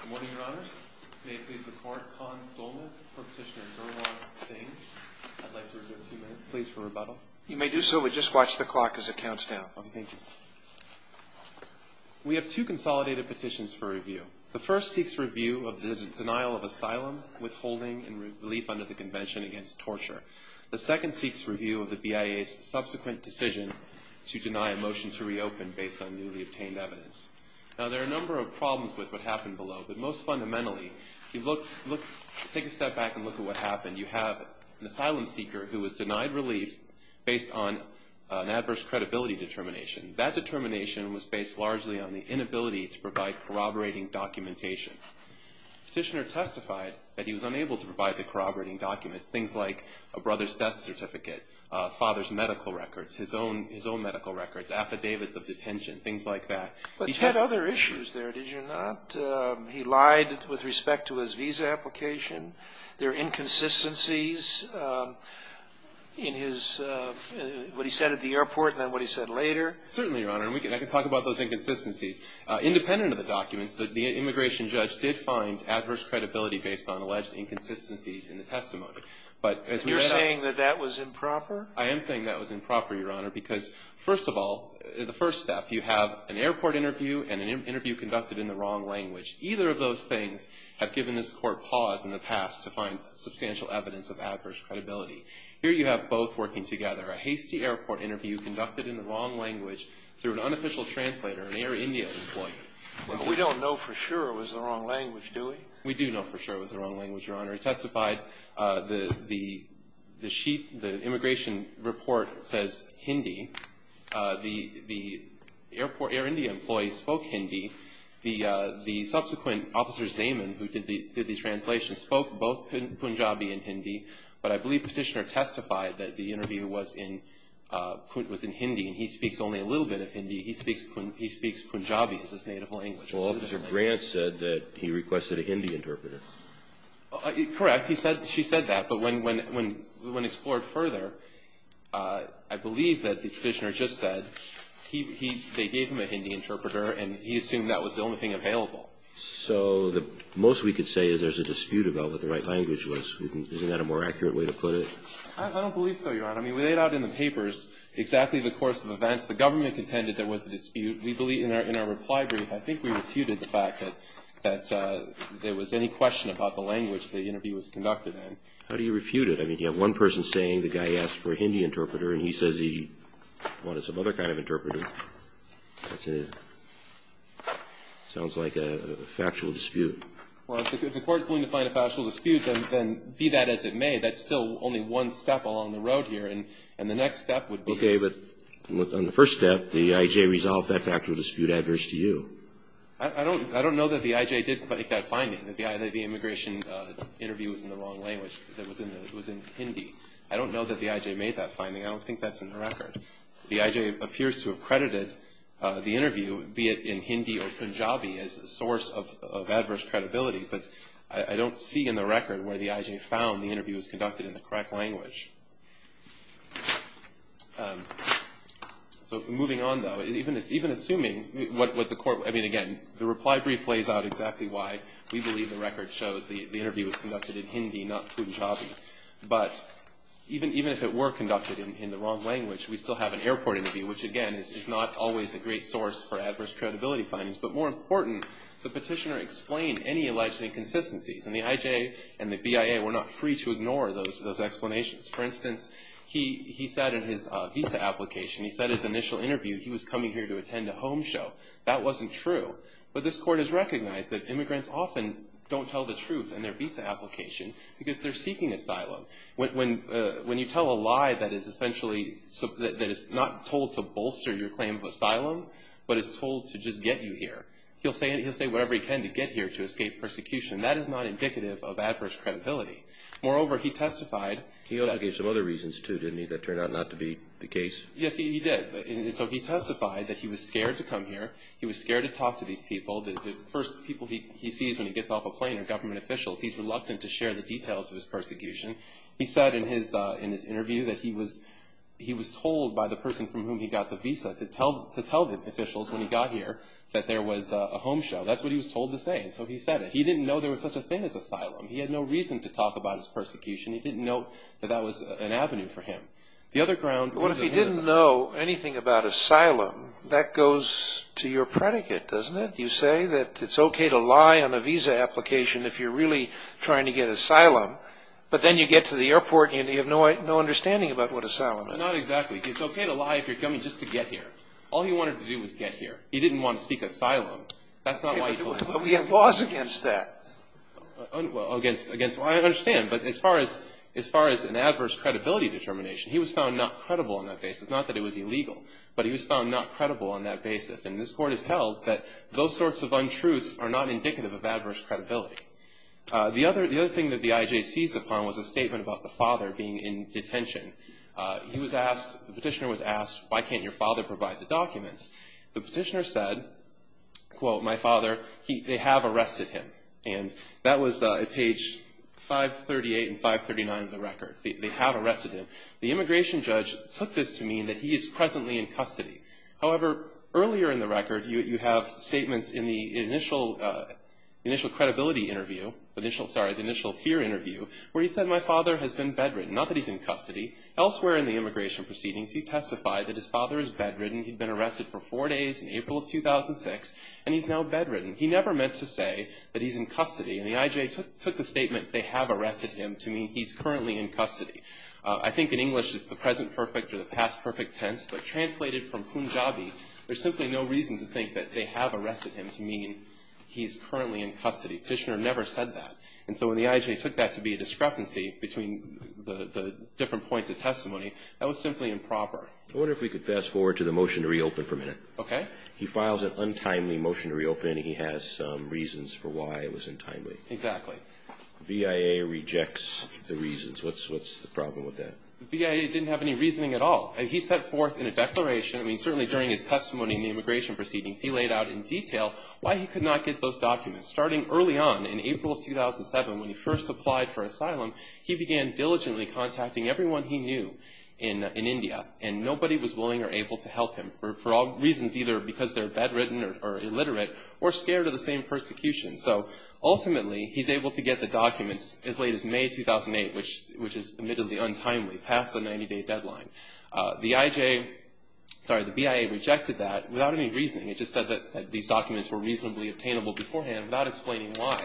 Good morning, Your Honor. May it please the Court, Con Stolman for Petitioner Gerlach Stange. I'd like to reserve two minutes, please, for rebuttal. You may do so, but just watch the clock as it counts down. Okay, thank you. We have two consolidated petitions for review. The first seeks review of the denial of asylum, withholding, and relief under the Convention against Torture. The second seeks review of the BIA's subsequent decision to deny a motion to reopen based on newly obtained evidence. Now, there are a number of problems with what happened below, but most fundamentally, if you take a step back and look at what happened, you have an asylum seeker who was denied relief based on an adverse credibility determination. That determination was based largely on the inability to provide corroborating documentation. Petitioner testified that he was unable to provide the corroborating documents, things like a brother's death certificate, father's medical records, his own medical records, affidavits of detention, things like that. But he had other issues there, did you not? He lied with respect to his visa application. There are inconsistencies in his – what he said at the airport and then what he said later. Certainly, Your Honor, and I can talk about those inconsistencies. Independent of the documents, the immigration judge did find adverse credibility based on alleged inconsistencies in the testimony. You're saying that that was improper? I am saying that was improper, Your Honor, because, first of all, the first step, you have an airport interview and an interview conducted in the wrong language. Either of those things have given this Court pause in the past to find substantial evidence of adverse credibility. Here you have both working together, a hasty airport interview conducted in the wrong language through an unofficial translator, an Air India employee. We don't know for sure it was the wrong language, do we? We do know for sure it was the wrong language, Your Honor. He testified. The sheet – the immigration report says Hindi. The airport – Air India employee spoke Hindi. The subsequent officer, Zaman, who did the translation, spoke both Punjabi and Hindi. But I believe Petitioner testified that the interview was in Hindi, and he speaks only a little bit of Hindi. He speaks Punjabi. It's his native language. Well, Officer Grant said that he requested a Hindi interpreter. Correct. She said that. But when explored further, I believe that Petitioner just said they gave him a Hindi interpreter, and he assumed that was the only thing available. So the most we could say is there's a dispute about what the right language was. Isn't that a more accurate way to put it? I don't believe so, Your Honor. I mean, we laid out in the papers exactly the course of events. The government contended there was a dispute. We believe – in our reply brief, I think we refuted the fact that there was any question about the language the interview was conducted in. How do you refute it? I mean, you have one person saying the guy asked for a Hindi interpreter, and he says he wanted some other kind of interpreter. That's a – sounds like a factual dispute. Well, if the Court's willing to find a factual dispute, then be that as it may, that's still only one step along the road here. And the next step would be – Okay, but on the first step, the I.J. resolved that factual dispute adverse to you. I don't know that the I.J. did make that finding, that the immigration interview was in the wrong language, that it was in Hindi. I don't know that the I.J. made that finding. I don't think that's in the record. The I.J. appears to have credited the interview, be it in Hindi or Punjabi, as a source of adverse credibility, but I don't see in the record where the I.J. found the interview was conducted in the correct language. So moving on, though, even assuming what the Court – I mean, again, the reply brief lays out exactly why we believe the record shows the interview was conducted in Hindi, not Punjabi. But even if it were conducted in the wrong language, we still have an airport interview, which, again, is not always a great source for adverse credibility findings. But more important, the petitioner explained any alleged inconsistencies. And the I.J. and the BIA were not free to ignore those explanations. For instance, he said in his visa application, he said in his initial interview, he was coming here to attend a home show. That wasn't true. But this Court has recognized that immigrants often don't tell the truth in their visa application because they're seeking asylum. When you tell a lie that is essentially – that is not told to bolster your claim of asylum, but is told to just get you here, he'll say whatever he can to get here to escape persecution. That is not indicative of adverse credibility. Moreover, he testified – He also gave some other reasons, too, didn't he, that turned out not to be the case? Yes, he did. So he testified that he was scared to come here. He was scared to talk to these people. The first people he sees when he gets off a plane are government officials. He's reluctant to share the details of his persecution. He said in his interview that he was told by the person from whom he got the visa to tell the officials when he got here that there was a home show. That's what he was told to say. So he said it. He didn't know there was such a thing as asylum. He had no reason to talk about his persecution. He didn't know that that was an avenue for him. The other ground – Well, if he didn't know anything about asylum, that goes to your predicate, doesn't it? You say that it's okay to lie on a visa application if you're really trying to get asylum, but then you get to the airport and you have no understanding about what asylum is. Not exactly. It's okay to lie if you're coming just to get here. All he wanted to do was get here. He didn't want to seek asylum. That's not why he told them. But we have laws against that. Against – well, I understand. But as far as an adverse credibility determination, he was found not credible on that basis. Not that it was illegal. But he was found not credible on that basis. And this court has held that those sorts of untruths are not indicative of adverse credibility. The other thing that the IJ seized upon was a statement about the father being in detention. He was asked – the petitioner was asked, why can't your father provide the documents? The petitioner said, quote, my father, they have arrested him. And that was at page 538 and 539 of the record. They have arrested him. The immigration judge took this to mean that he is presently in custody. However, earlier in the record, you have statements in the initial credibility interview – sorry, the initial fear interview where he said, my father has been bedridden. Not that he's in custody. Elsewhere in the immigration proceedings, he testified that his father is bedridden. He'd been arrested for four days in April of 2006. And he's now bedridden. He never meant to say that he's in custody. And the IJ took the statement, they have arrested him, to mean he's currently in custody. I think in English it's the present perfect or the past perfect tense, but translated from Punjabi, there's simply no reason to think that they have arrested him to mean he's currently in custody. The petitioner never said that. And so when the IJ took that to be a discrepancy between the different points of testimony, that was simply improper. I wonder if we could fast forward to the motion to reopen for a minute. Okay. He files an untimely motion to reopen, and he has reasons for why it was untimely. Exactly. The VIA rejects the reasons. What's the problem with that? The VIA didn't have any reasoning at all. He set forth in a declaration, I mean, certainly during his testimony in the immigration proceedings, he laid out in detail why he could not get those documents. Starting early on in April of 2007, when he first applied for asylum, he began diligently contacting everyone he knew in India. And nobody was willing or able to help him for all reasons, either because they're bedridden or illiterate or scared of the same persecution. So ultimately, he's able to get the documents as late as May 2008, which is admittedly untimely, past the 90-day deadline. The IJ, sorry, the VIA rejected that without any reasoning. It just said that these documents were reasonably obtainable beforehand without explaining why.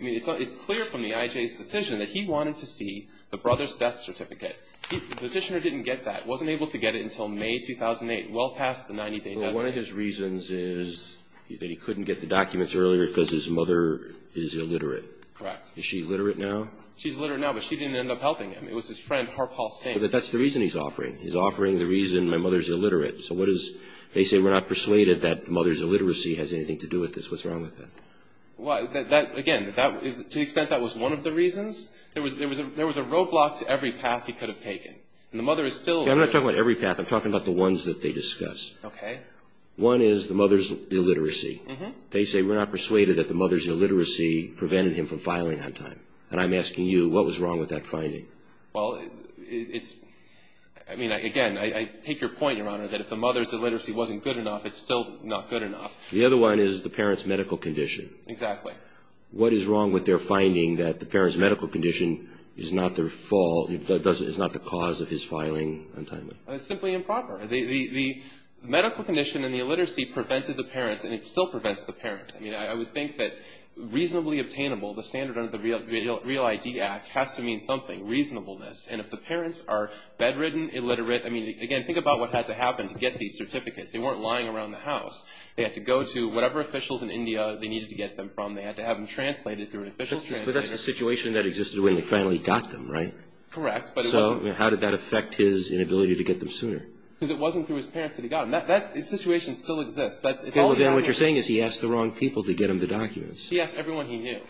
I mean, it's clear from the IJ's decision that he wanted to see the brother's death certificate. The petitioner didn't get that, wasn't able to get it until May 2008, well past the 90-day deadline. One of his reasons is that he couldn't get the documents earlier because his mother is illiterate. Correct. Is she illiterate now? She's illiterate now, but she didn't end up helping him. It was his friend Harpal Singh. But that's the reason he's offering. He's offering the reason my mother's illiterate. So what is, they say we're not persuaded that the mother's illiteracy has anything to do with this. What's wrong with that? Well, that, again, to the extent that was one of the reasons, there was a roadblock to every path he could have taken. And the mother is still illiterate. I'm not talking about every path. I'm talking about the ones that they discuss. Okay. One is the mother's illiteracy. They say we're not persuaded that the mother's illiteracy prevented him from filing on time. And I'm asking you, what was wrong with that finding? Well, it's, I mean, again, I take your point, Your Honor, that if the mother's illiteracy wasn't good enough, it's still not good enough. The other one is the parent's medical condition. Exactly. What is wrong with their finding that the parent's medical condition is not their fault, is not the cause of his filing on time? It's simply improper. The medical condition and the illiteracy prevented the parents, and it still prevents the parents. I mean, I would think that reasonably obtainable, the standard under the Real ID Act, has to mean something, reasonableness. And if the parents are bedridden, illiterate, I mean, again, think about what had to happen to get these certificates. They weren't lying around the house. They had to go to whatever officials in India they needed to get them from. They had to have them translated through an official's translator. But that's the situation that existed when he finally got them, right? Correct. So how did that affect his inability to get them sooner? Because it wasn't through his parents that he got them. That situation still exists. Then what you're saying is he asked the wrong people to get him the documents. He asked everyone he knew.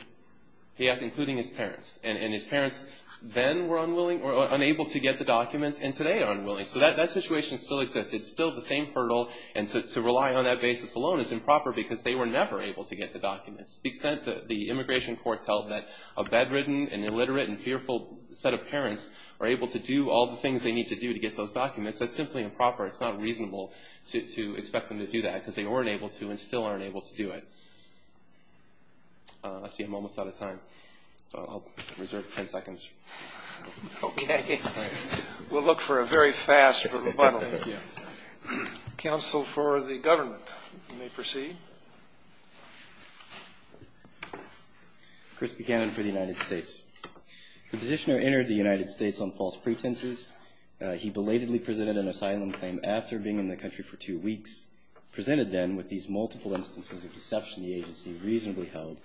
He asked including his parents. And his parents then were unable to get the documents and today are unwilling. So that situation still exists. It's still the same hurdle, and to rely on that basis alone is improper because they were never able to get the documents. The immigration courts held that a bedridden and illiterate and fearful set of parents are able to do all the things they need to do to get those documents. That's simply improper. It's not reasonable to expect them to do that because they weren't able to and still aren't able to do it. Let's see. I'm almost out of time. I'll reserve 10 seconds. Okay. We'll look for a very fast rebuttal. Thank you. Counsel for the government, you may proceed. Chris Buchanan for the United States. The petitioner entered the United States on false pretenses. He belatedly presented an asylum claim after being in the country for two weeks, presented then with these multiple instances of deception the agency reasonably held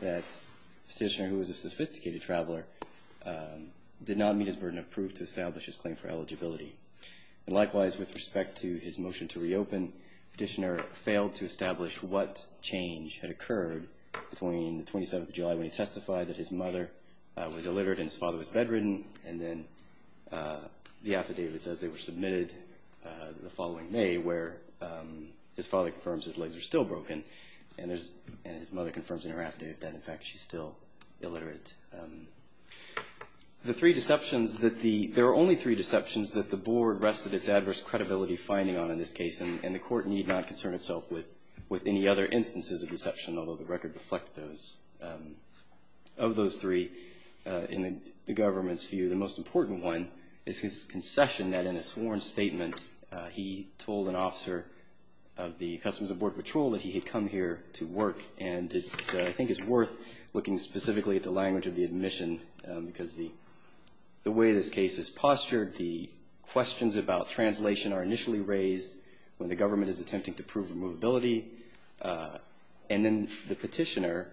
that the petitioner, who was a sophisticated traveler, did not meet his burden of proof to establish his claim for eligibility. Likewise, with respect to his motion to reopen, the petitioner failed to establish what change had occurred between the 27th of July when he testified that his mother was illiterate and his father was bedridden and then the affidavit says they were submitted the following May where his father confirms his legs are still broken and his mother confirms in her affidavit that, in fact, she's still illiterate. The three deceptions that the – there are only three deceptions that the board rested its adverse credibility finding on in this case and the court need not concern itself with any other instances of deception, although the record reflected those – of those three in the government's view. The most important one is his concession that in a sworn statement he told an officer of the Customs and Border Patrol that he had come here to work and I think it's worth looking specifically at the language of the admission because the way this case is postured, the questions about translation are initially raised when the government is attempting to prove removability and then the petitioner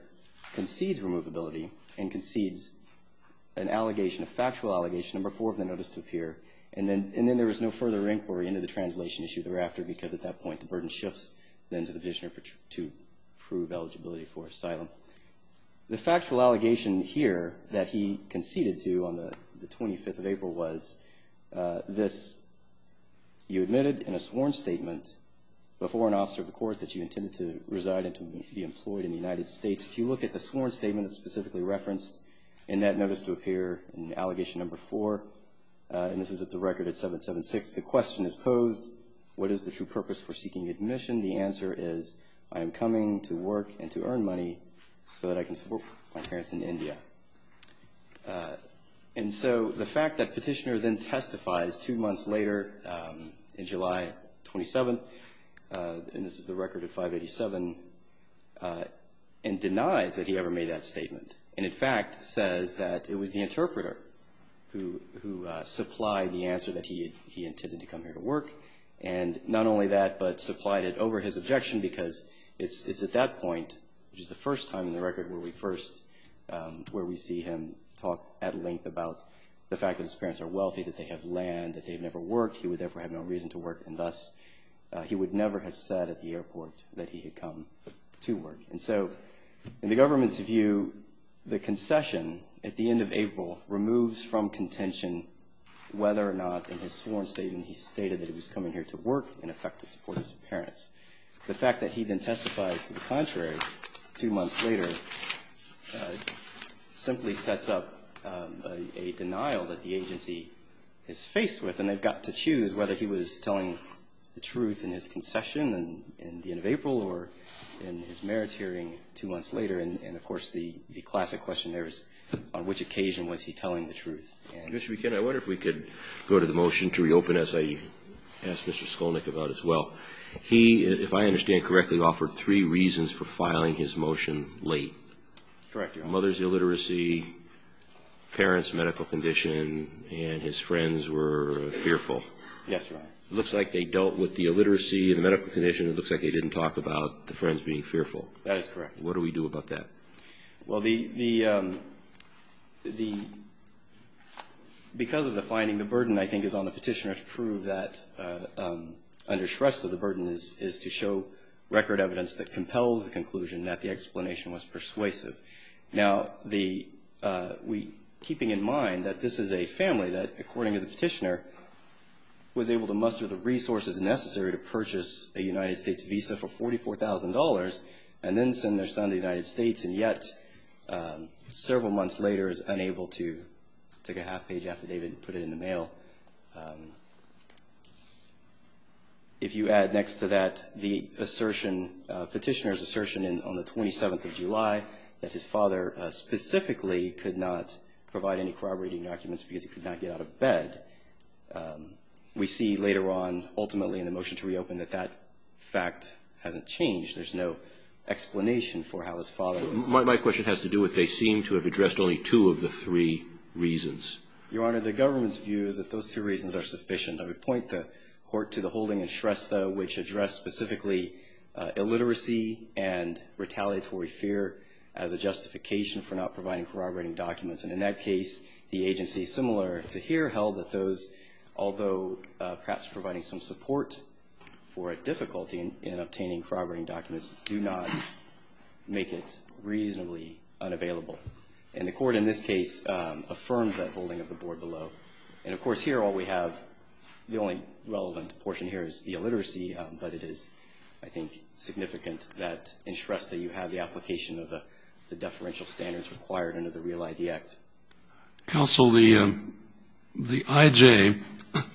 concedes removability and concedes an allegation, a factual allegation, number four of the notice to appear and then there was no further inquiry into the translation issue thereafter because at that point the burden shifts then to the petitioner to prove eligibility for asylum. The factual allegation here that he conceded to on the 25th of April was this. You admitted in a sworn statement before an officer of the court that you intended to reside and to be employed in the United States. If you look at the sworn statement that's specifically referenced in that notice to appear in allegation number four, and this is at the record at 776, the question is posed what is the true purpose for seeking admission? The answer is I am coming to work and to earn money so that I can support my parents in India. And so the fact that petitioner then testifies two months later in July 27th, and this is the record at 587, and denies that he ever made that statement and in fact says that it was the interpreter who supplied the answer that he intended to come here to work and not only that, but supplied it over his objection because it's at that point, which is the first time in the record where we first, where we see him talk at length about the fact that his parents are wealthy, that they have land, that they've never worked, he would therefore have no reason to work, and thus he would never have said at the airport that he had come to work. And so in the government's view, the concession at the end of April removes from contention whether or not in his sworn statement he stated that he was coming here to work, in effect to support his parents. The fact that he then testifies to the contrary two months later simply sets up a denial that the agency is faced with and they've got to choose whether he was telling the truth in his concession in the end of April or in his merits hearing two months later. And, of course, the classic question there is on which occasion was he telling the truth. Mr. McKinney, I wonder if we could go to the motion to reopen, as I asked Mr. Skolnick about as well. He, if I understand correctly, offered three reasons for filing his motion late. Correct, Your Honor. Mother's illiteracy, parents' medical condition, and his friends were fearful. Yes, Your Honor. It looks like they dealt with the illiteracy and the medical condition. It looks like they didn't talk about the friends being fearful. That is correct. What do we do about that? Well, because of the finding, the burden, I think, is on the petitioner to prove that under stress of the burden is to show record evidence that compels the conclusion that the explanation was persuasive. Now, keeping in mind that this is a family that, according to the petitioner, was able to muster the resources necessary to purchase a United States visa for $44,000 and then send their son to the United States, and yet, several months later, is unable to take a half-page affidavit and put it in the mail. If you add next to that the assertion, petitioner's assertion on the 27th of July, that his father specifically could not provide any corroborating documents because he could not get out of bed, we see later on, ultimately in the motion to reopen, that that fact hasn't changed. There's no explanation for how his father was. My question has to do with they seem to have addressed only two of the three reasons. Your Honor, the government's view is that those two reasons are sufficient. I would point the Court to the holding in Shrestha, which addressed specifically illiteracy and retaliatory fear as a justification for not providing corroborating documents. And in that case, the agency, similar to here, held that those, although perhaps providing some support for a difficulty in obtaining corroborating documents, do not make it reasonably unavailable. And the Court, in this case, affirmed that holding of the board below. And, of course, here, all we have, the only relevant portion here is the illiteracy, but it is, I think, significant that in Shrestha, you have the application of the deferential standards required under the Real ID Act. Counsel, the I.J.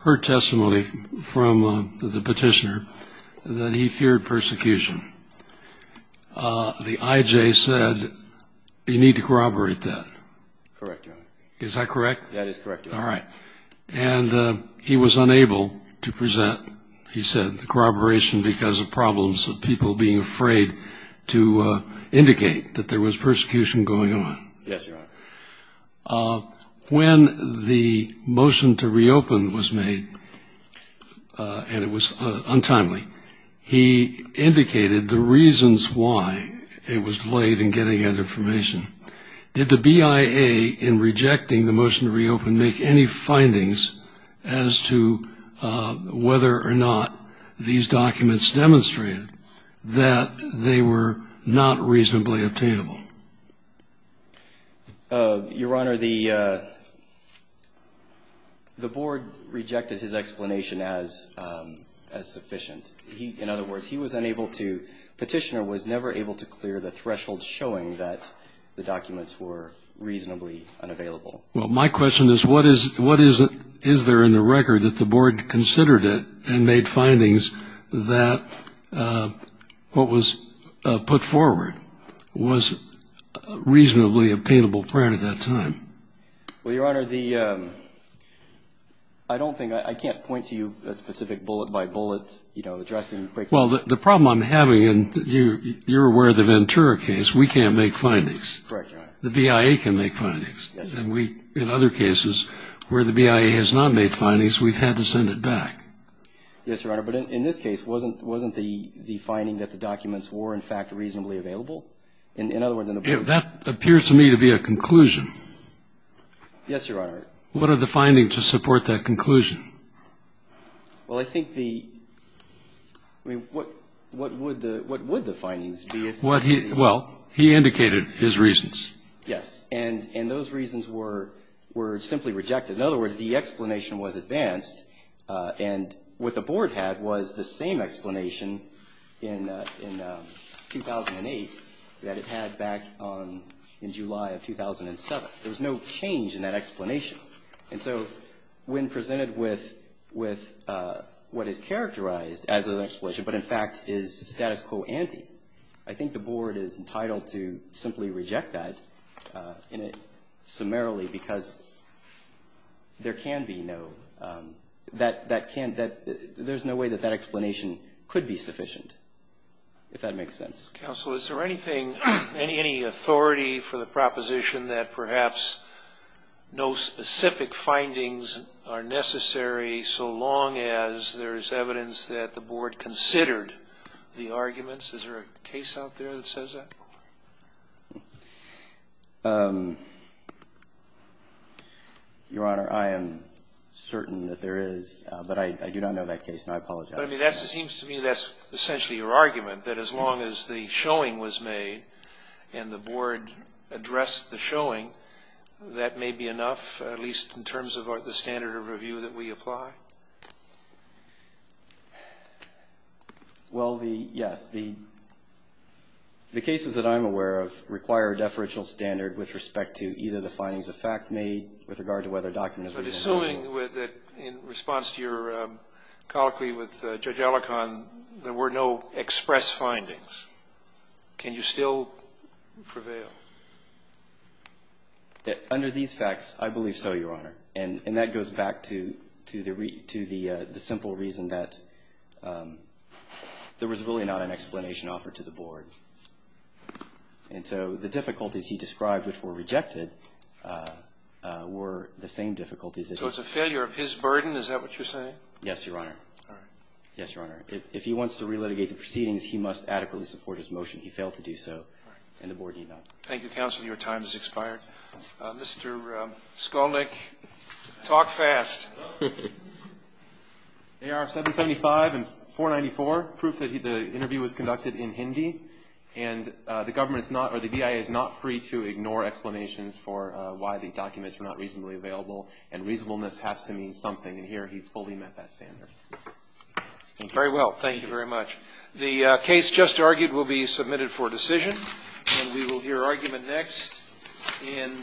heard testimony from the petitioner that he feared persecution. The I.J. said you need to corroborate that. Correct, Your Honor. Is that correct? That is correct, Your Honor. All right. And he was unable to present, he said, because of problems of people being afraid to indicate that there was persecution going on. Yes, Your Honor. When the motion to reopen was made, and it was untimely, he indicated the reasons why it was delayed in getting that information. Did the BIA, in rejecting the motion to reopen, make any findings as to whether or not these documents demonstrated that they were not reasonably obtainable? Your Honor, the board rejected his explanation as sufficient. In other words, he was unable to, petitioner was never able to clear the threshold showing that the documents were reasonably unavailable. Well, my question is, what is it, is there in the record that the board considered it and made findings that what was put forward was reasonably obtainable prior to that time? Well, Your Honor, the, I don't think, I can't point to you a specific bullet by bullet, you know, addressing. Well, the problem I'm having, and you're aware of the Ventura case, we can't make findings. Correct, Your Honor. The BIA can make findings. Yes. And we, in other cases, where the BIA has not made findings, we've had to send it back. Yes, Your Honor. But in this case, wasn't the finding that the documents were, in fact, reasonably available? In other words, in the board. That appears to me to be a conclusion. Yes, Your Honor. What are the findings to support that conclusion? Well, I think the, I mean, what would the, what would the findings be if. Well, he indicated his reasons. Yes. And those reasons were simply rejected. In other words, the explanation was advanced, and what the board had was the same explanation in 2008 that it had back in July of 2007. There was no change in that explanation. And so when presented with what is characterized as an explanation, but in fact is status quo ante, I think the board is entitled to simply reject that summarily because there can be no, that can't, there's no way that that explanation could be sufficient, if that makes sense. Counsel, is there anything, any authority for the proposition that perhaps no specific findings are necessary so long as there is evidence that the board considered the arguments? Is there a case out there that says that? Your Honor, I am certain that there is, but I do not know that case, and I apologize. But, I mean, that seems to me that's essentially your argument, that as long as the showing was made and the board addressed the showing, that may be enough, at least in terms of the standard of review that we apply? Well, the, yes. The cases that I'm aware of require a deferential standard with respect to either the findings of fact made with regard to whether a document has been held. But assuming that in response to your colloquy with Judge Alicorn, there were no express findings, can you still prevail? Under these facts, I believe so, Your Honor. And that goes back to the simple reason that there was really not an explanation offered to the board. And so the difficulties he described, which were rejected, were the same difficulties. So it's a failure of his burden, is that what you're saying? Yes, Your Honor. All right. Yes, Your Honor. If he wants to relitigate the proceedings, he must adequately support his motion. He failed to do so, and the board need not. Thank you, Counsel. Your time has expired. Mr. Skolnick, talk fast. AR-775 and 494, proof that the interview was conducted in Hindi. And the government is not, or the BIA is not free to ignore explanations for why the documents were not reasonably available, and reasonableness has to mean something. And here he fully met that standard. Thank you. Very well. Thank you very much. The case just argued will be submitted for decision, and we will hear argument next. Thank you.